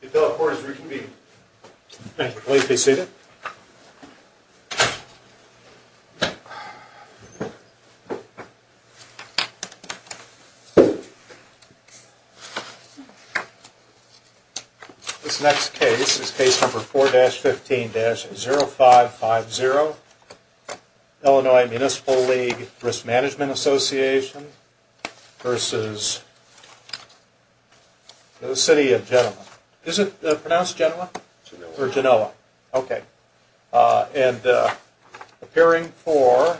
The appellate court is reconvened. Please be seated. This next case is case number 4-15-0550. Illinois Municipal League Risk Management Association v. The City of Genoa. Is it pronounced Genoa? Genoa. Or Genoa. Okay. And appearing for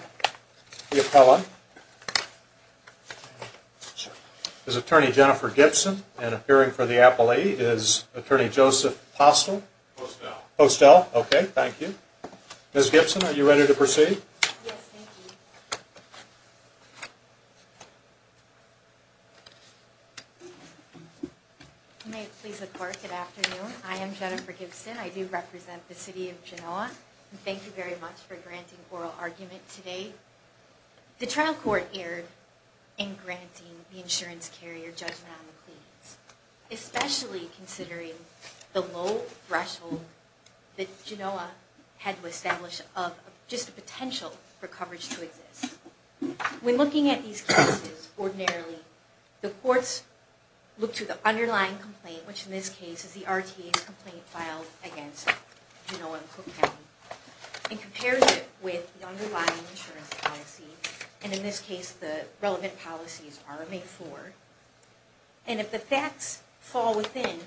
the appellant is Attorney Jennifer Gibson. And appearing for the appellee is Attorney Joseph Postel. Postel. Postel. Thank you. Ms. Gibson, are you ready to proceed? Yes, thank you. You may please look forward. Good afternoon. I am Jennifer Gibson. I do represent the City of Genoa. Thank you very much for granting oral argument today. The trial court erred in granting the insurance carrier judgment on the claims. Especially considering the low threshold that Genoa had to establish of just the potential for coverage to exist. When looking at these cases, ordinarily, the courts look to the underlying complaint, which in this case is the RTA's complaint filed against Genoa and Cook County, and compares it with the underlying insurance policy. And in this case, the relevant policy is RMA-IV. And if the facts fall within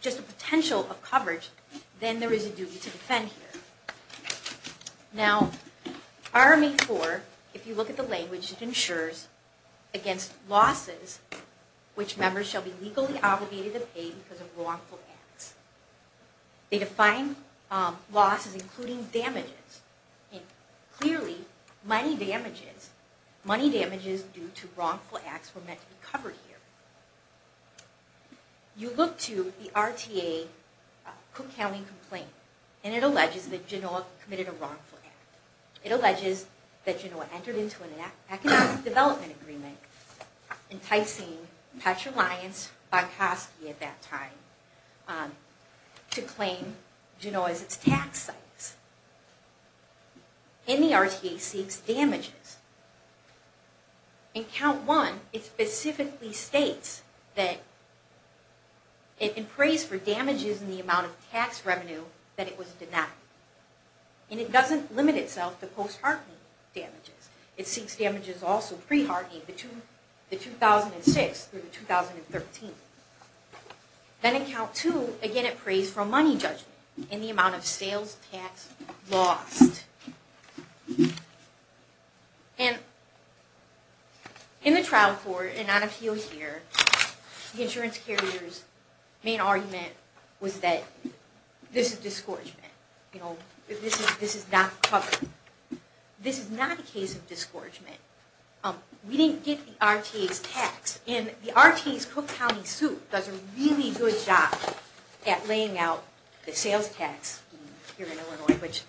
just the potential of coverage, then there is a duty to defend here. Now, RMA-IV, if you look at the language, it insures against losses, which members shall be legally obligated to pay because of wrongful acts. They define losses including damages. And clearly, money damages, money damages due to wrongful acts were meant to be covered here. You look to the RTA Cook County complaint, and it alleges that Genoa committed a wrongful act. It alleges that Genoa entered into an economic development agreement, enticing Petra Lyons-Bankoski at that time to claim Genoa as its tax site. And the RTA seeks damages. In Count 1, it specifically states that it prays for damages in the amount of tax revenue that it was denied. And it doesn't limit itself to post-heartening damages. It seeks damages also pre-heartening, the 2006 through the 2013. Then in Count 2, again it prays for money judgment in the amount of sales tax lost. And in the trial court, and on appeal here, the insurance carrier's main argument was that this is disgorgement. You know, this is not covered. This is not a case of disgorgement. We didn't get the RTA's tax. And the RTA's Cook County suit does a really good job at laying out the sales tax scheme here in Illinois, which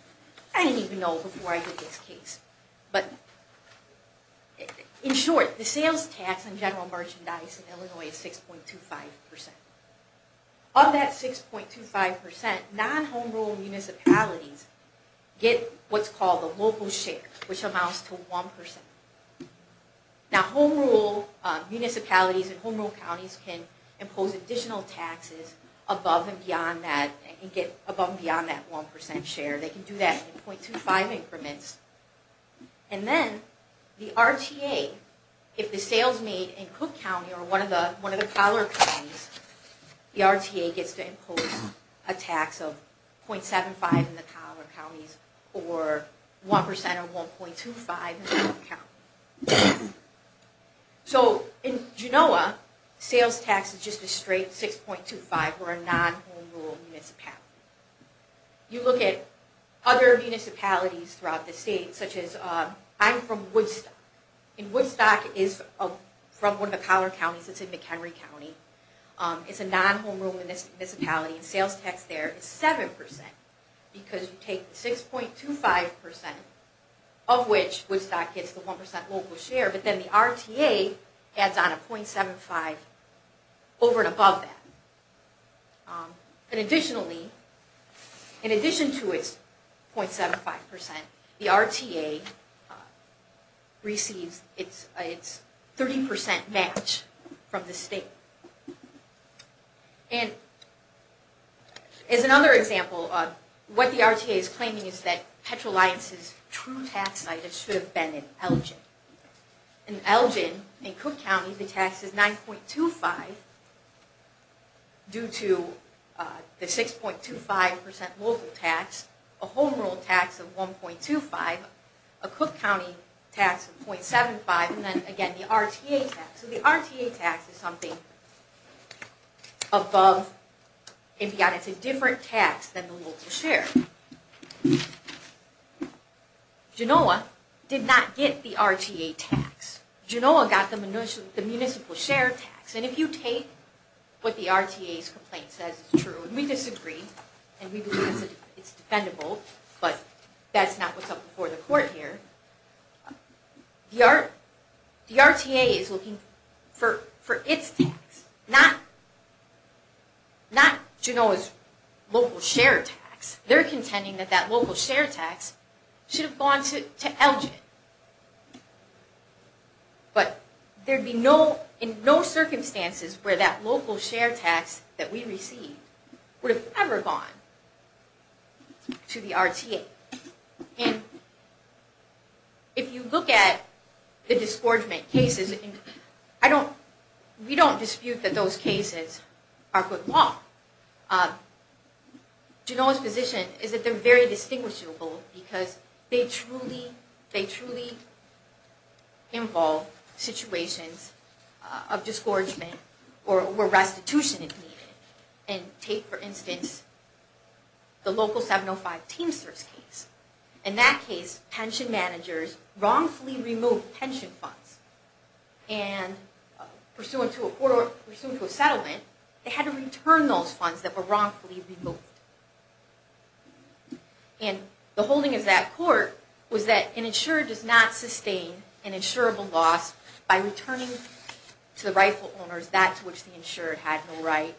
I didn't even know before I heard this case. But in short, the sales tax on general merchandise in Illinois is 6.25%. Of that 6.25%, non-home-rule municipalities get what's called the local share, which amounts to 1%. Now, home-rule municipalities and home-rule counties can impose additional taxes above and beyond that, and get above and beyond that 1% share. They can do that in .25 increments. And then the RTA, if the sales made in Cook County or one of the collar counties, the RTA gets to impose a tax of .75 in the collar counties or 1% or 1.25 in the Cook County. So in Genoa, sales tax is just a straight 6.25 for a non-home-rule municipality. You look at other municipalities throughout the state, such as I'm from Woodstock. And Woodstock is from one of the collar counties. It's in McHenry County. It's a non-home-rule municipality, and sales tax there is 7% because you take 6.25%, of which Woodstock gets the 1% local share, but then the RTA adds on a .75 over and above that. And additionally, in addition to its .75%, the RTA receives its 30% match from the state. And as another example, what the RTA is claiming is that Petro-Lyons' true tax site should have been in Elgin. In Elgin, in Cook County, the tax is 9.25 due to the 6.25% local tax, a home-rule tax of 1.25, a Cook County tax of .75, and then again the RTA tax. So the RTA tax is something above and beyond. It's a different tax than the local share. Genoa did not get the RTA tax. Genoa got the municipal share tax. And if you take what the RTA's complaint says is true, and we disagree, and we believe it's defendable, but that's not what's up before the court here. The RTA is looking for its tax, not Genoa's local share tax. They're contending that that local share tax should have gone to Elgin. But there'd be no, in no circumstances where that local share tax that we received would have ever gone to the RTA. And if you look at the disgorgement cases, I don't, we don't dispute that those cases are put law. Genoa's position is that they're very distinguishable because they truly, they truly involve situations of disgorgement or restitution if needed. And take, for instance, the local 705 Teamsters case. In that case, pension managers wrongfully removed pension funds. And pursuant to a court, pursuant to a settlement, they had to return those funds that were wrongfully removed. And the holding of that court was that an insurer does not sustain an insurable loss by returning to the rightful owners that to which the insurer had no right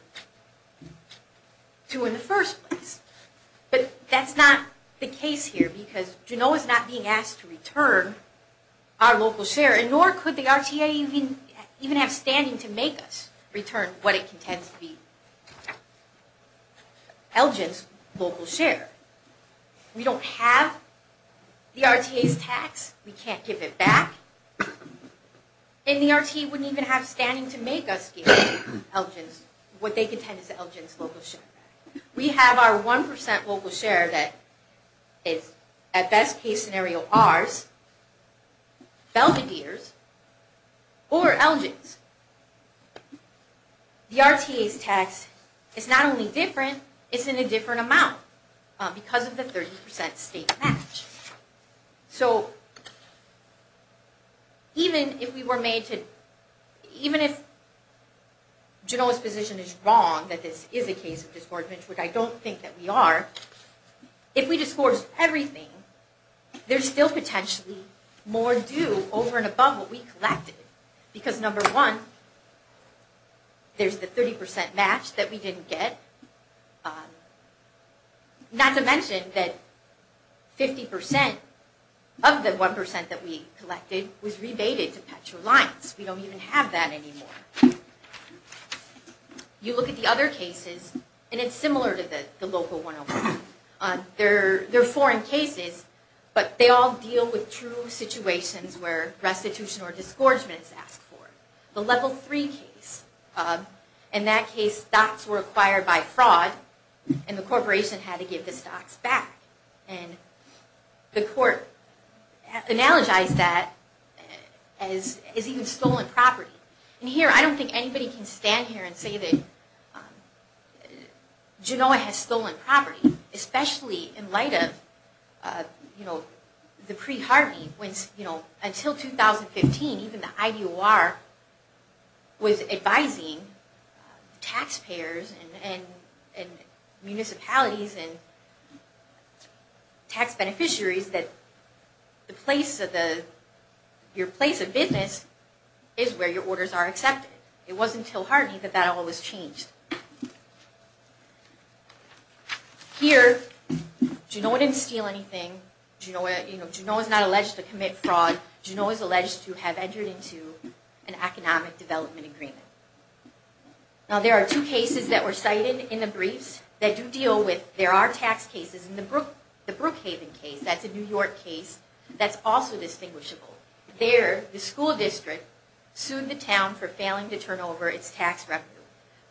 to in the first place. But that's not the case here because Genoa's not being asked to return our local share. And nor could the RTA even have standing to make us return what it contends to be Elgin's local share. We don't have the RTA's tax. We can't give it back. And the RTA wouldn't even have standing to make us give Elgin's, what they contend is Elgin's local share back. We have our 1% local share that is, at best case scenario, ours, Belvedere's, or Elgin's. The RTA's tax is not only different, it's in a different amount because of the 30% state match. So, even if we were made to, even if Genoa's position is wrong that this is a case of disgorgement, which I don't think that we are, if we disgorge everything, there's still potentially more due over and above what we collected. Because number one, there's the 30% match that we didn't get. Not to mention that 50% of the 1% that we collected was rebated to PetroLines. We don't even have that anymore. You look at the other cases, and it's similar to the local 101. They're foreign cases, but they all deal with true situations where restitution or disgorgement is asked for. The Level 3 case, in that case, stocks were acquired by fraud, and the corporation had to give the stocks back. And the court analogized that as even stolen property. And here, I don't think anybody can stand here and say that Genoa has stolen property, especially in light of the pre-Hartney. Until 2015, even the IDOR was advising taxpayers and municipalities and tax beneficiaries that your place of business is where your orders are accepted. It wasn't until Hartney that that all was changed. Here, Genoa didn't steal anything. Genoa is not alleged to commit fraud. Genoa is alleged to have entered into an economic development agreement. Now, there are two cases that were cited in the briefs that do deal with, there are tax cases. In the Brookhaven case, that's a New York case, that's also distinguishable. There, the school district sued the town for failing to turn over its tax revenue.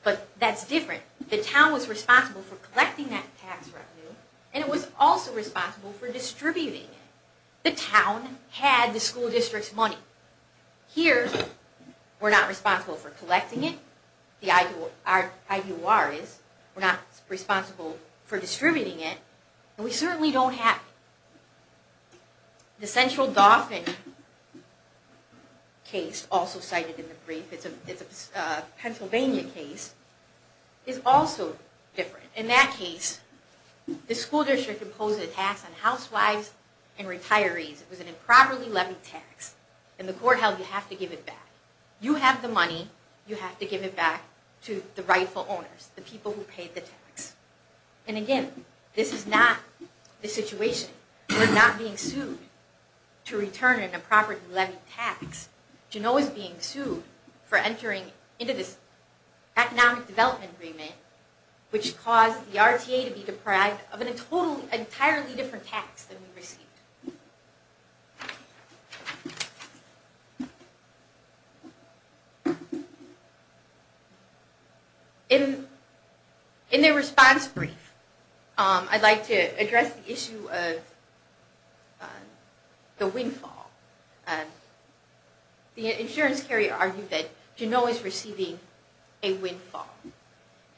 But that's different. The town was responsible for collecting that tax revenue, and it was also responsible for distributing it. The town had the school district's money. Here, we're not responsible for collecting it. The IDOR is. We're not responsible for distributing it. And we certainly don't have it. The Central Dauphin case, also cited in the brief, it's a Pennsylvania case, is also different. In that case, the school district imposed a tax on housewives and retirees. It was an improperly levied tax, and the court held you have to give it back. You have the money, you have to give it back to the rightful owners, the people who paid the tax. And again, this is not the situation. We're not being sued to return an improperly levied tax. Juneau is being sued for entering into this economic development agreement, which caused the RTA to be deprived of an entirely different tax than we received. In their response brief, I'd like to address the issue of the windfall. The insurance carrier argued that Juneau is receiving a windfall.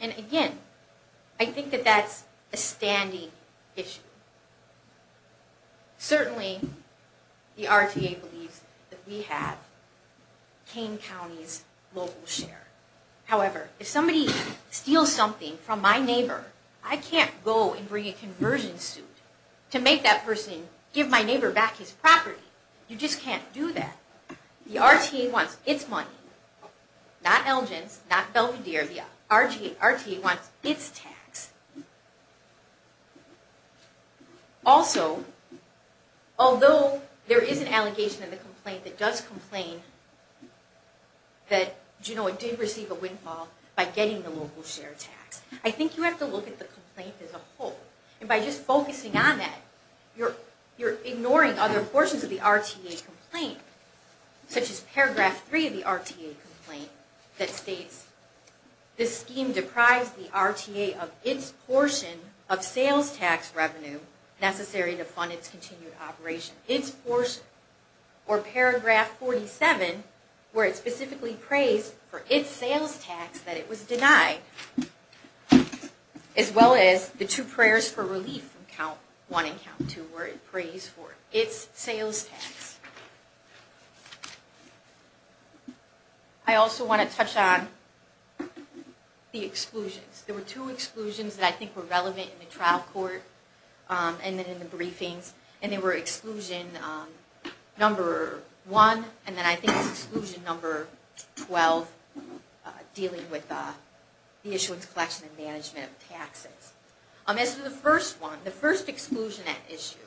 And again, I think that that's a standing issue. Certainly, the RTA believes that we have Kane County's local share. However, if somebody steals something from my neighbor, I can't go and bring a conversion suit to make that person give my neighbor back his property. You just can't do that. The RTA wants its money. Not Elgin's, not Belvedere, the RTA wants its tax. Also, although there is an allegation in the complaint that does complain that Juneau did receive a windfall by getting the local share tax, I think you have to look at the complaint as a whole. And by just focusing on that, you're ignoring other portions of the RTA complaint, such as paragraph 3 of the RTA complaint that states, This scheme deprives the RTA of its portion of sales tax revenue necessary to fund its continued operation. Its portion. Or paragraph 47, where it specifically prays for its sales tax that it was denied. As well as the two prayers for relief from count 1 and count 2, where it prays for its sales tax. I also want to touch on the exclusions. There were two exclusions that I think were relevant in the trial court and then in the briefings. And they were exclusion number 1, and then I think it's exclusion number 12, dealing with the issuance, collection, and management of taxes. As for the first one, the first exclusion at issue,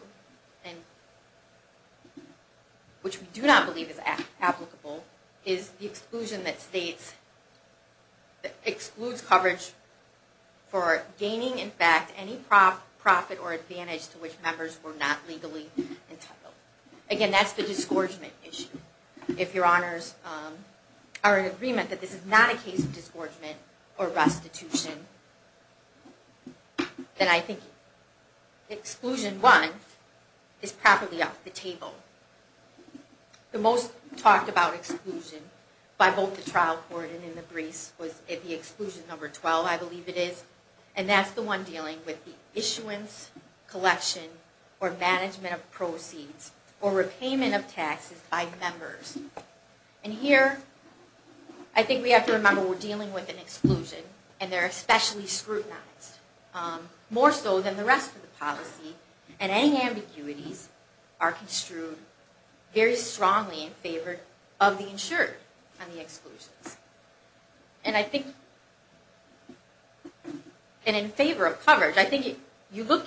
which we do not believe is applicable, is the exclusion that states, that excludes coverage for gaining in fact any profit or advantage to which members were not legally entitled. Again, that's the disgorgement issue. If your honors are in agreement that this is not a case of disgorgement or restitution, then I think exclusion 1 is probably off the table. The most talked about exclusion by both the trial court and in the briefs was the exclusion number 12, I believe it is. And that's the one dealing with the issuance, collection, or management of proceeds, or repayment of taxes by members. And here, I think we have to remember we're dealing with an exclusion, and they're especially scrutinized. More so than the rest of the policy. And any ambiguities are construed very strongly in favor of the insured on the exclusions. And in favor of coverage, I think you look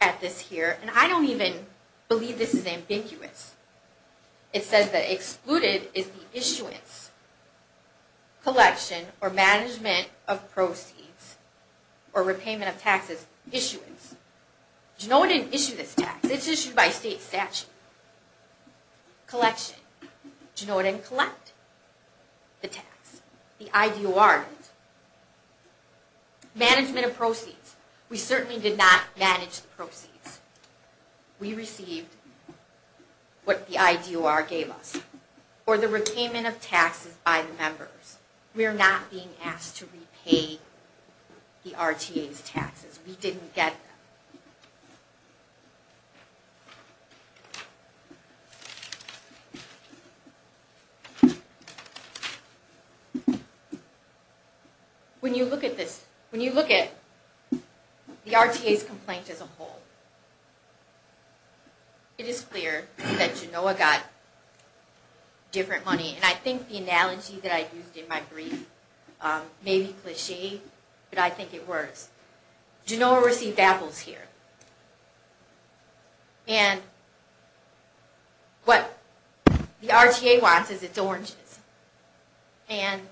at this here, and I don't even believe this is ambiguous. It says that excluded is the issuance, collection, or management of proceeds, or repayment of taxes issuance. You know it didn't issue this tax, it's issued by state statute. Collection, you know it didn't collect the tax, the IDOR did. Management of proceeds, we certainly did not manage the proceeds. We received what the IDOR gave us, or the repayment of taxes by the members. We are not being asked to repay the RTA's taxes, we didn't get them. When you look at this, when you look at the RTA's complaint as a whole, it is clear that Genoa got different money. And I think the analogy that I used in my brief may be cliche, but I think it works. Genoa received apples here. And what the RTA wants is its oranges. And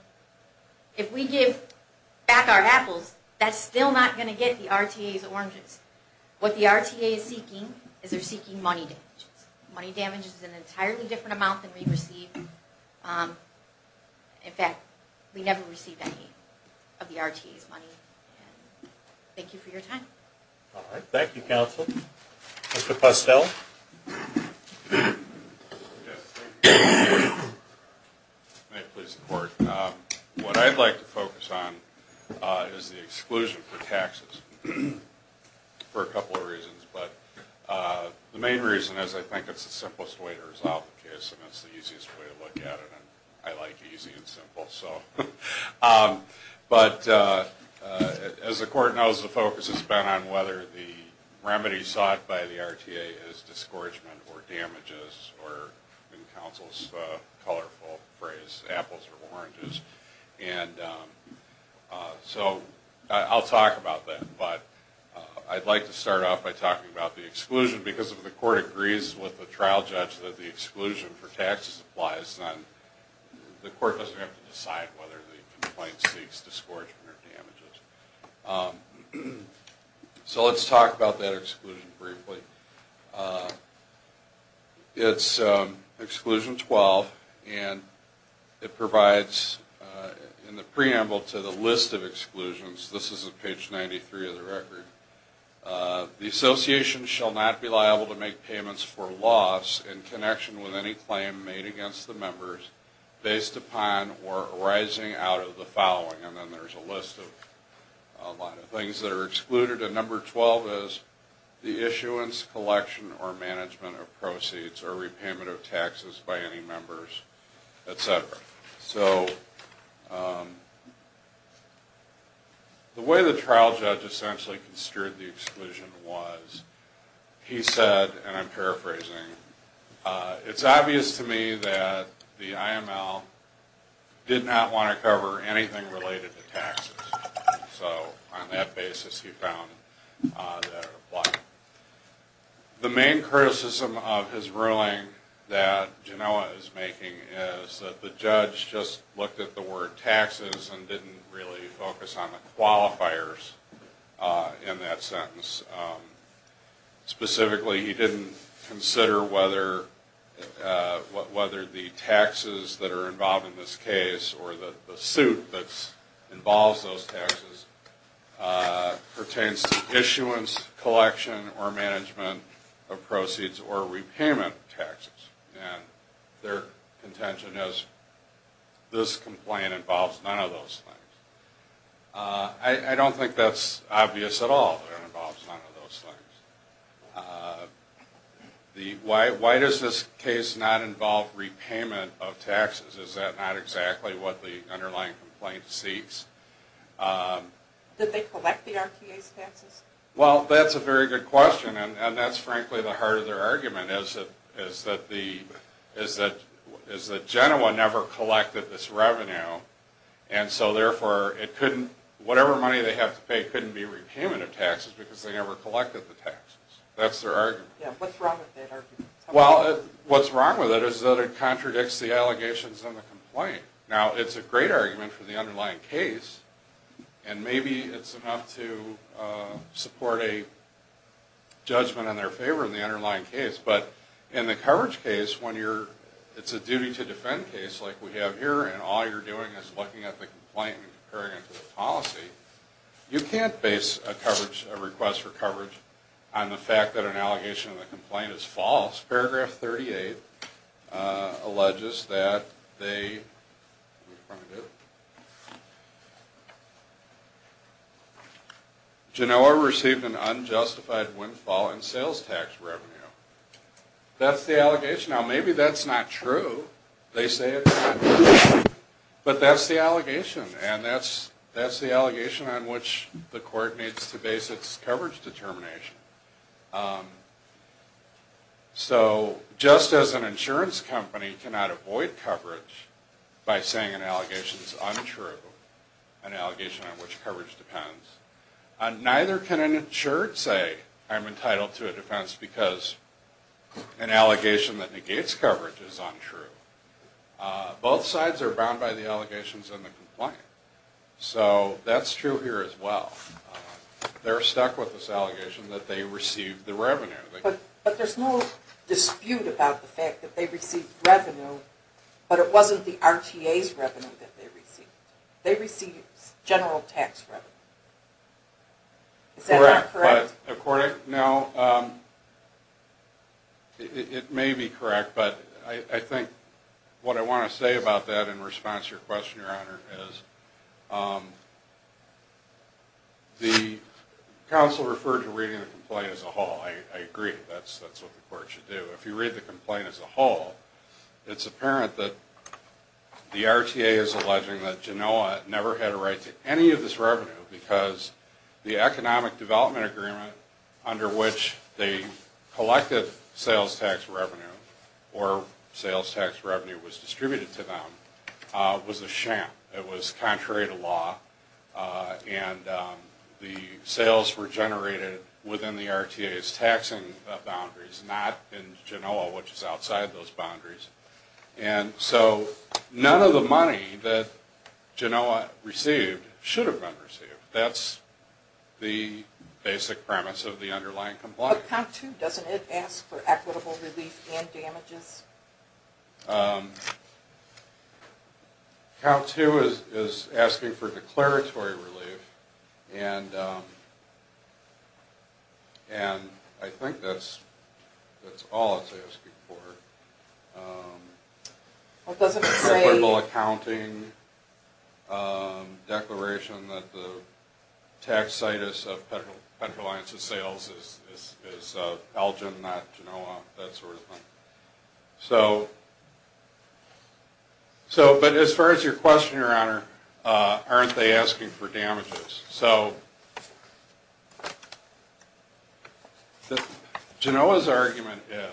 if we give back our apples, that's still not going to get the RTA's oranges. What the RTA is seeking is they're seeking money damages. Money damages is an entirely different amount than we receive. In fact, we never received any of the RTA's money. Thank you for your time. Thank you counsel. Mr. Postel. May it please the court. What I'd like to focus on is the exclusion for taxes for a couple of reasons. The main reason is I think it's the simplest way to resolve the case and it's the easiest way to look at it. I like easy and simple. But as the court knows, the focus has been on whether the remedy sought by the RTA is discouragement or damages or, in counsel's colorful phrase, apples or oranges. So I'll talk about that, but I'd like to start off by talking about the exclusion, because if the court agrees with the trial judge that the exclusion for taxes applies, then the court doesn't have to decide whether the complaint seeks discouragement or damages. So let's talk about that exclusion briefly. It's exclusion 12, and it provides in the preamble to the list of exclusions. This is at page 93 of the record. The association shall not be liable to make payments for loss in connection with any claim made against the members based upon or arising out of the following. And then there's a list of a lot of things that are excluded. And number 12 is the issuance, collection, or management of proceeds or repayment of taxes by any members, etc. So the way the trial judge essentially construed the exclusion was, he said, and I'm paraphrasing, it's obvious to me that the IML did not want to cover anything related to taxes. So on that basis he found that it applied. The main criticism of his ruling that Genoa is making is that the judge just looked at the word taxes and didn't really focus on the qualifiers in that sentence. Specifically he didn't consider whether the taxes that are involved in this case or the suit that involves those taxes pertains to issuance, collection, or management of proceeds or repayment of taxes. And their contention is this complaint involves none of those things. I don't think that's obvious at all, that it involves none of those things. Why does this case not involve repayment of taxes? Is that not exactly what the underlying complaint seeks? Did they collect the RTA's taxes? Well, that's a very good question, and that's frankly the heart of their argument, is that Genoa never collected this revenue, and so therefore whatever money they have to pay couldn't be repayment of taxes, because they never collected the taxes. That's their argument. What's wrong with it is that it contradicts the allegations in the complaint. Now, it's a great argument for the underlying case, and maybe it's enough to support a judgment in their favor in the underlying case, but in the coverage case, when it's a duty to defend case like we have here, and all you're doing is looking at the complaint and comparing it to the policy, you can't base a request for coverage on the fact that an allegation in the complaint is false. Paragraph 38 alleges that Genoa received an unjustified windfall in sales tax revenue. That's the allegation. Now, maybe that's not true. They say it's not true, but that's the allegation, and that's the allegation on which the court needs to base its coverage determination. So just as an insurance company cannot avoid coverage by saying an allegation is untrue, an allegation on which coverage depends, neither can an insured say I'm entitled to a defense because an allegation that negates coverage is untrue. Both sides are bound by the allegations in the complaint, so that's true here as well. They're stuck with this allegation that they received the revenue. But there's no dispute about the fact that they received revenue, but it wasn't the RTA's revenue that they received. They received general tax revenue. It may be correct, but I think what I want to say about that in response to your question, Your Honor, is the counsel referred to reading the complaint as a whole. I agree. That's what the court should do. If you read the complaint as a whole, it's apparent that the RTA is alleging that Genoa never had a right to any of this revenue because the economic development agreement under which the collective sales tax revenue or sales tax revenue was distributed to them was a sham. It was contrary to law, and the sales were generated within the RTA's taxing boundaries, not in Genoa, which is outside those boundaries. And so none of the money that Genoa received should have been received. That's the basic premise of the underlying complaint. Count 2, doesn't it ask for equitable relief and damages? Count 2 is asking for declaratory relief, and I think that's all it's asking for. Equitable accounting, declaration that the taxitis of Petroliant's sales is Elgin, not Genoa, that sort of thing. But as far as your question, Your Honor, aren't they asking for damages? Genoa's argument is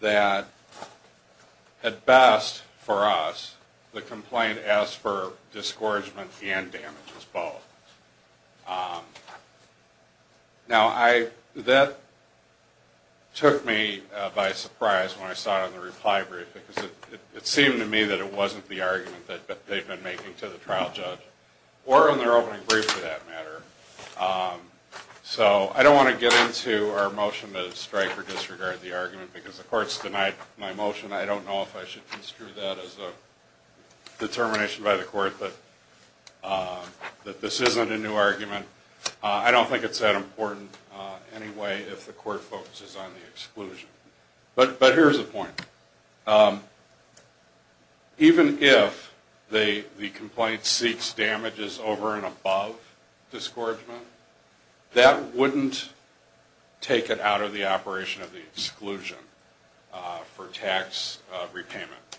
that at best for us, the complaint asks for discouragement and damages both. Now that took me by surprise when I saw it on the reply brief, because it seemed to me that it wasn't the argument that they've been making to the trial judge, or on their opening brief for that matter. So I don't want to get into our motion to strike or disregard the argument, because the court's denied my motion. I don't know if I should construe that as a determination by the court that this isn't a new argument. I don't think it's that important anyway if the court focuses on the exclusion. But here's the point. Even if the complaint seeks damages over and above discouragement, that wouldn't take it out of the operation of the exclusion for tax repayment.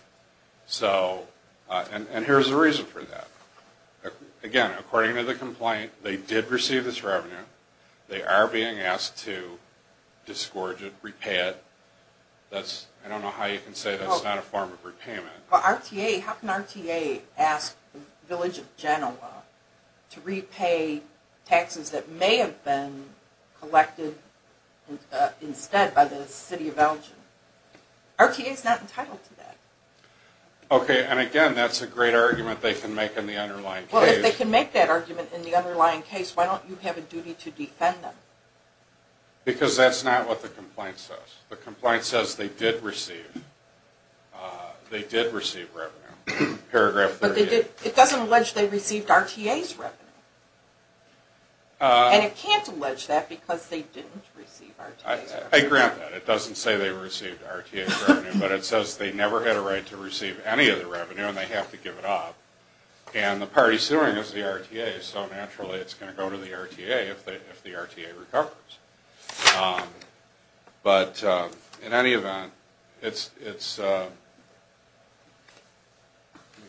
And here's the reason for that. Again, according to the complaint, they did receive this revenue. They are being asked to discourage it, repay it. I don't know how you can say that's not a form of repayment. How can RTA ask the village of Genoa to repay taxes that may have been collected instead by the city of Belgium? RTA is not entitled to that. Okay, and again, that's a great argument they can make in the underlying case. Well, if they can make that argument in the underlying case, why don't you have a duty to defend them? Because that's not what the complaint says. The complaint says they did receive revenue, paragraph 38. But it doesn't allege they received RTA's revenue. And it can't allege that because they didn't receive RTA's revenue. I grant that. It doesn't say they received RTA's revenue, but it says they never had a right to receive any of the revenue and they have to give it up. And the party suing is the RTA, so naturally it's going to go to the RTA if the RTA recovers. But in any event, let me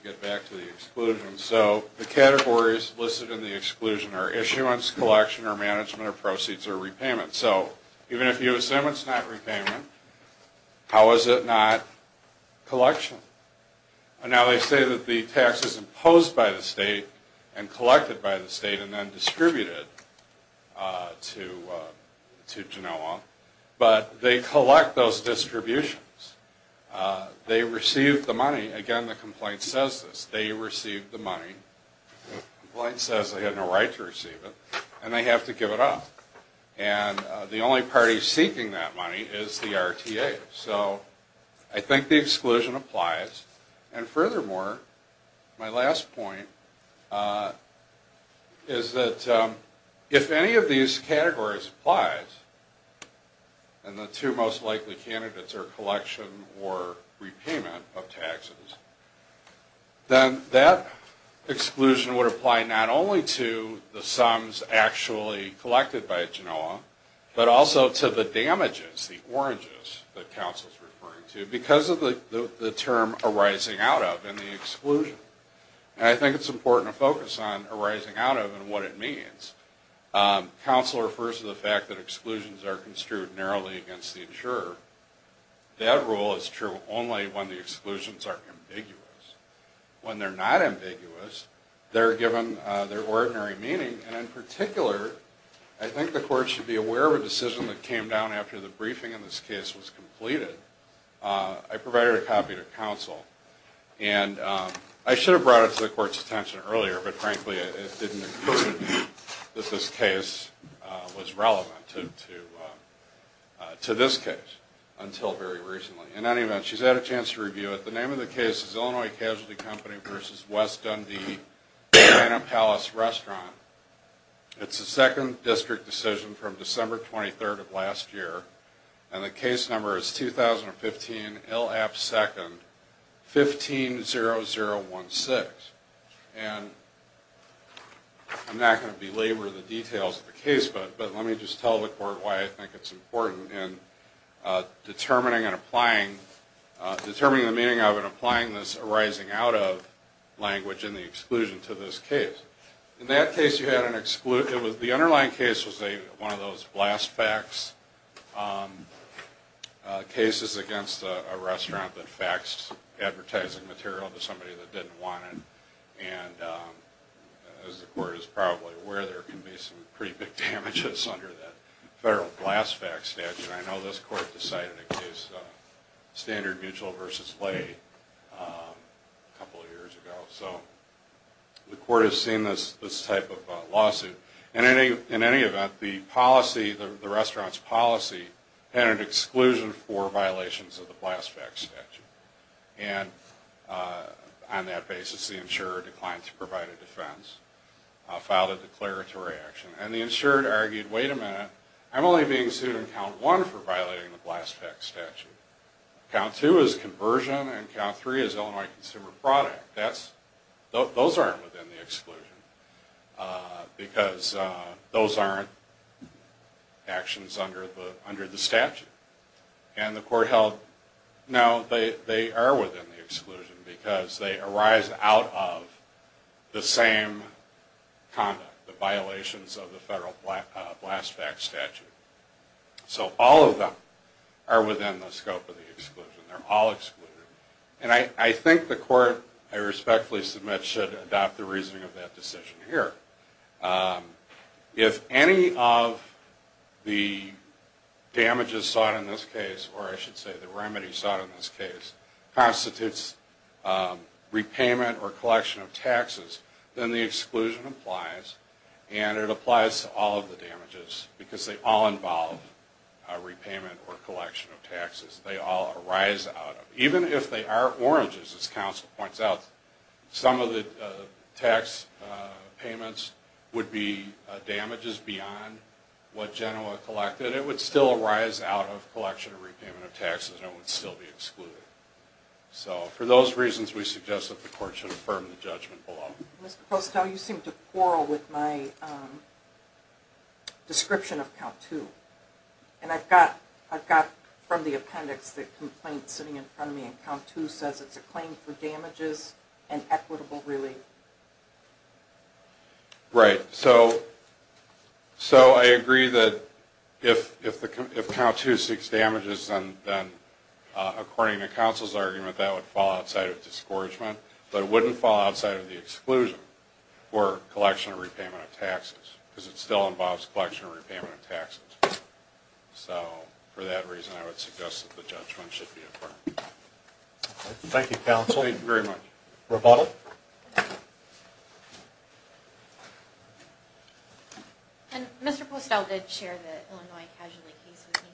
get back to the exclusion. So the categories listed in the exclusion are issuance, collection, or management, or proceeds, or repayment. So even if you assume it's not repayment, how is it not collection? And now they say that the tax is imposed by the state and collected by the state and then distributed to Genoa. But they collect those distributions. They received the money. Again, the complaint says this. They received the money. The complaint says they had no right to receive it and they have to give it up. And the only party seeking that money is the RTA. So I think the exclusion applies. And furthermore, my last point is that if any of these categories applies, and the two most likely candidates are collection or repayment of taxes, then that exclusion would apply not only to the sums actually collected by Genoa, but also to the damages, the oranges that counsel is referring to, because of the term arising out of and the exclusion. And I think it's important to focus on arising out of and what it means. Counsel refers to the fact that exclusions are construed narrowly against the insurer. That rule is true only when the exclusions are ambiguous. When they're not ambiguous, they're given their ordinary meaning. And in particular, I think the court should be aware of a decision that came down after the briefing in this case was completed. I provided a copy to counsel. And I should have brought it to the court's attention earlier, but frankly it didn't occur to me that this case was relevant to this case until very recently. In any event, she's had a chance to review it. The name of the case is Illinois Casualty Company v. West Dundee Banana Palace Restaurant. It's a second district decision from December 23rd of last year. And the case number is 2015 L. App. 2nd, 150016. And I'm not going to belabor the details of the case, but let me just tell the court why I think it's important in determining and applying, determining the meaning of and applying this arising out of language and the exclusion to this case. In that case, the underlying case was one of those blast facts cases against a restaurant that faxed advertising material to somebody that didn't want it. And as the court is probably aware, there can be some pretty big damages under that federal blast fact statute. I know this court decided a case, Standard Mutual v. Lay, a couple of years ago. So the court has seen this type of lawsuit. In any event, the restaurant's policy had an exclusion for violations of the blast fact statute. And on that basis, the insurer declined to provide a defense, filed a declaratory action. And the insured argued, wait a minute, I'm only being sued in count one for violating the blast fact statute. Count two is conversion, and count three is Illinois consumer product. Those aren't within the exclusion, because those aren't actions under the statute. And the court held, no, they are within the exclusion, because they arise out of the same conduct, the violations of the federal blast fact statute. So all of them are within the scope of the exclusion. They're all excluded. And I think the court, I respectfully submit, should adopt the reasoning of that decision here. If any of the damages sought in this case, or I should say the remedies sought in this case, constitutes repayment or collection of taxes, then the exclusion applies. And it applies to all of the damages, because they all involve repayment or collection of taxes. They all arise out of, even if they are oranges, as counsel points out, some of the tax payments would be damages beyond what Genoa collected. And it would still arise out of collection or repayment of taxes, and it would still be excluded. So for those reasons, we suggest that the court should affirm the judgment below. Mr. Postow, you seem to quarrel with my description of count two. And I've got from the appendix the complaint sitting in front of me, and count two says it's a claim for damages and equitable relief. Right. So I agree that if count two seeks damages, then according to counsel's argument, that would fall outside of discouragement. But it wouldn't fall outside of the exclusion for collection or repayment of taxes, because it still involves collection or repayment of taxes. So for that reason, I would suggest that the judgment should be affirmed. Thank you, counsel. Thank you very much. Roboto. And Mr. Postow did share the Illinois Casualty case with me,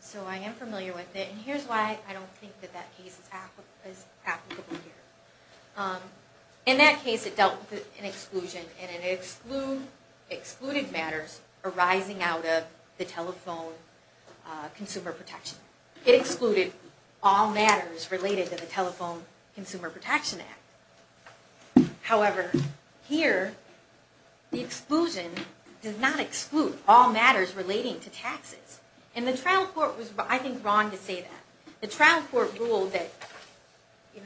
so I am familiar with it, and here's why I don't think that that case is applicable here. In that case, it dealt with an exclusion, and it excluded matters arising out of the Telephone Consumer Protection Act. It excluded all matters related to the Telephone Consumer Protection Act. However, here, the exclusion does not exclude all matters relating to taxes. And the trial court was, I think, wrong to say that. The trial court ruled that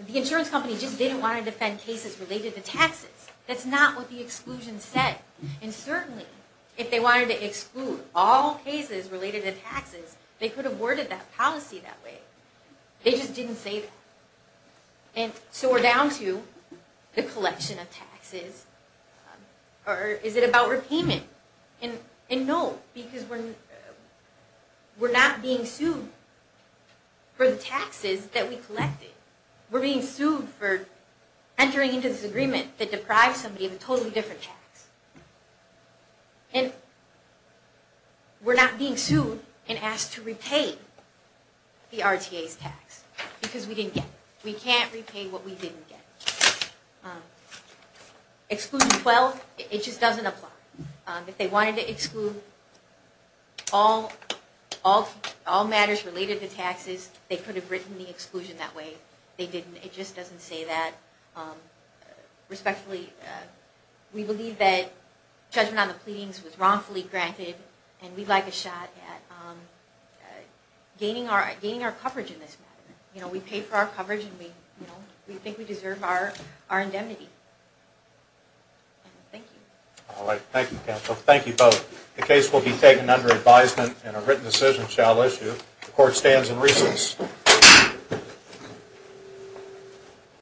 the insurance company just didn't want to defend cases related to taxes. That's not what the exclusion said. And certainly, if they wanted to exclude all cases related to taxes, they could have worded that policy that way. They just didn't say that. And so we're down to the collection of taxes. Or is it about repayment? And no, because we're not being sued for the taxes that we collected. We're being sued for entering into this agreement that deprived somebody of a totally different tax. And we're not being sued and asked to repay the RTA's tax because we didn't get it. We can't repay what we didn't get. Exclusion 12, it just doesn't apply. If they wanted to exclude all matters related to taxes, they could have written the exclusion that way. They didn't. It just doesn't say that. Respectfully, we believe that judgment on the pleadings was wrongfully granted, and we'd like a shot at gaining our coverage in this matter. We paid for our coverage, and we think we deserve our indemnity. Thank you. All right, thank you, counsel. Thank you both. The case will be taken under advisement, and a written decision shall issue. The court stands in recess.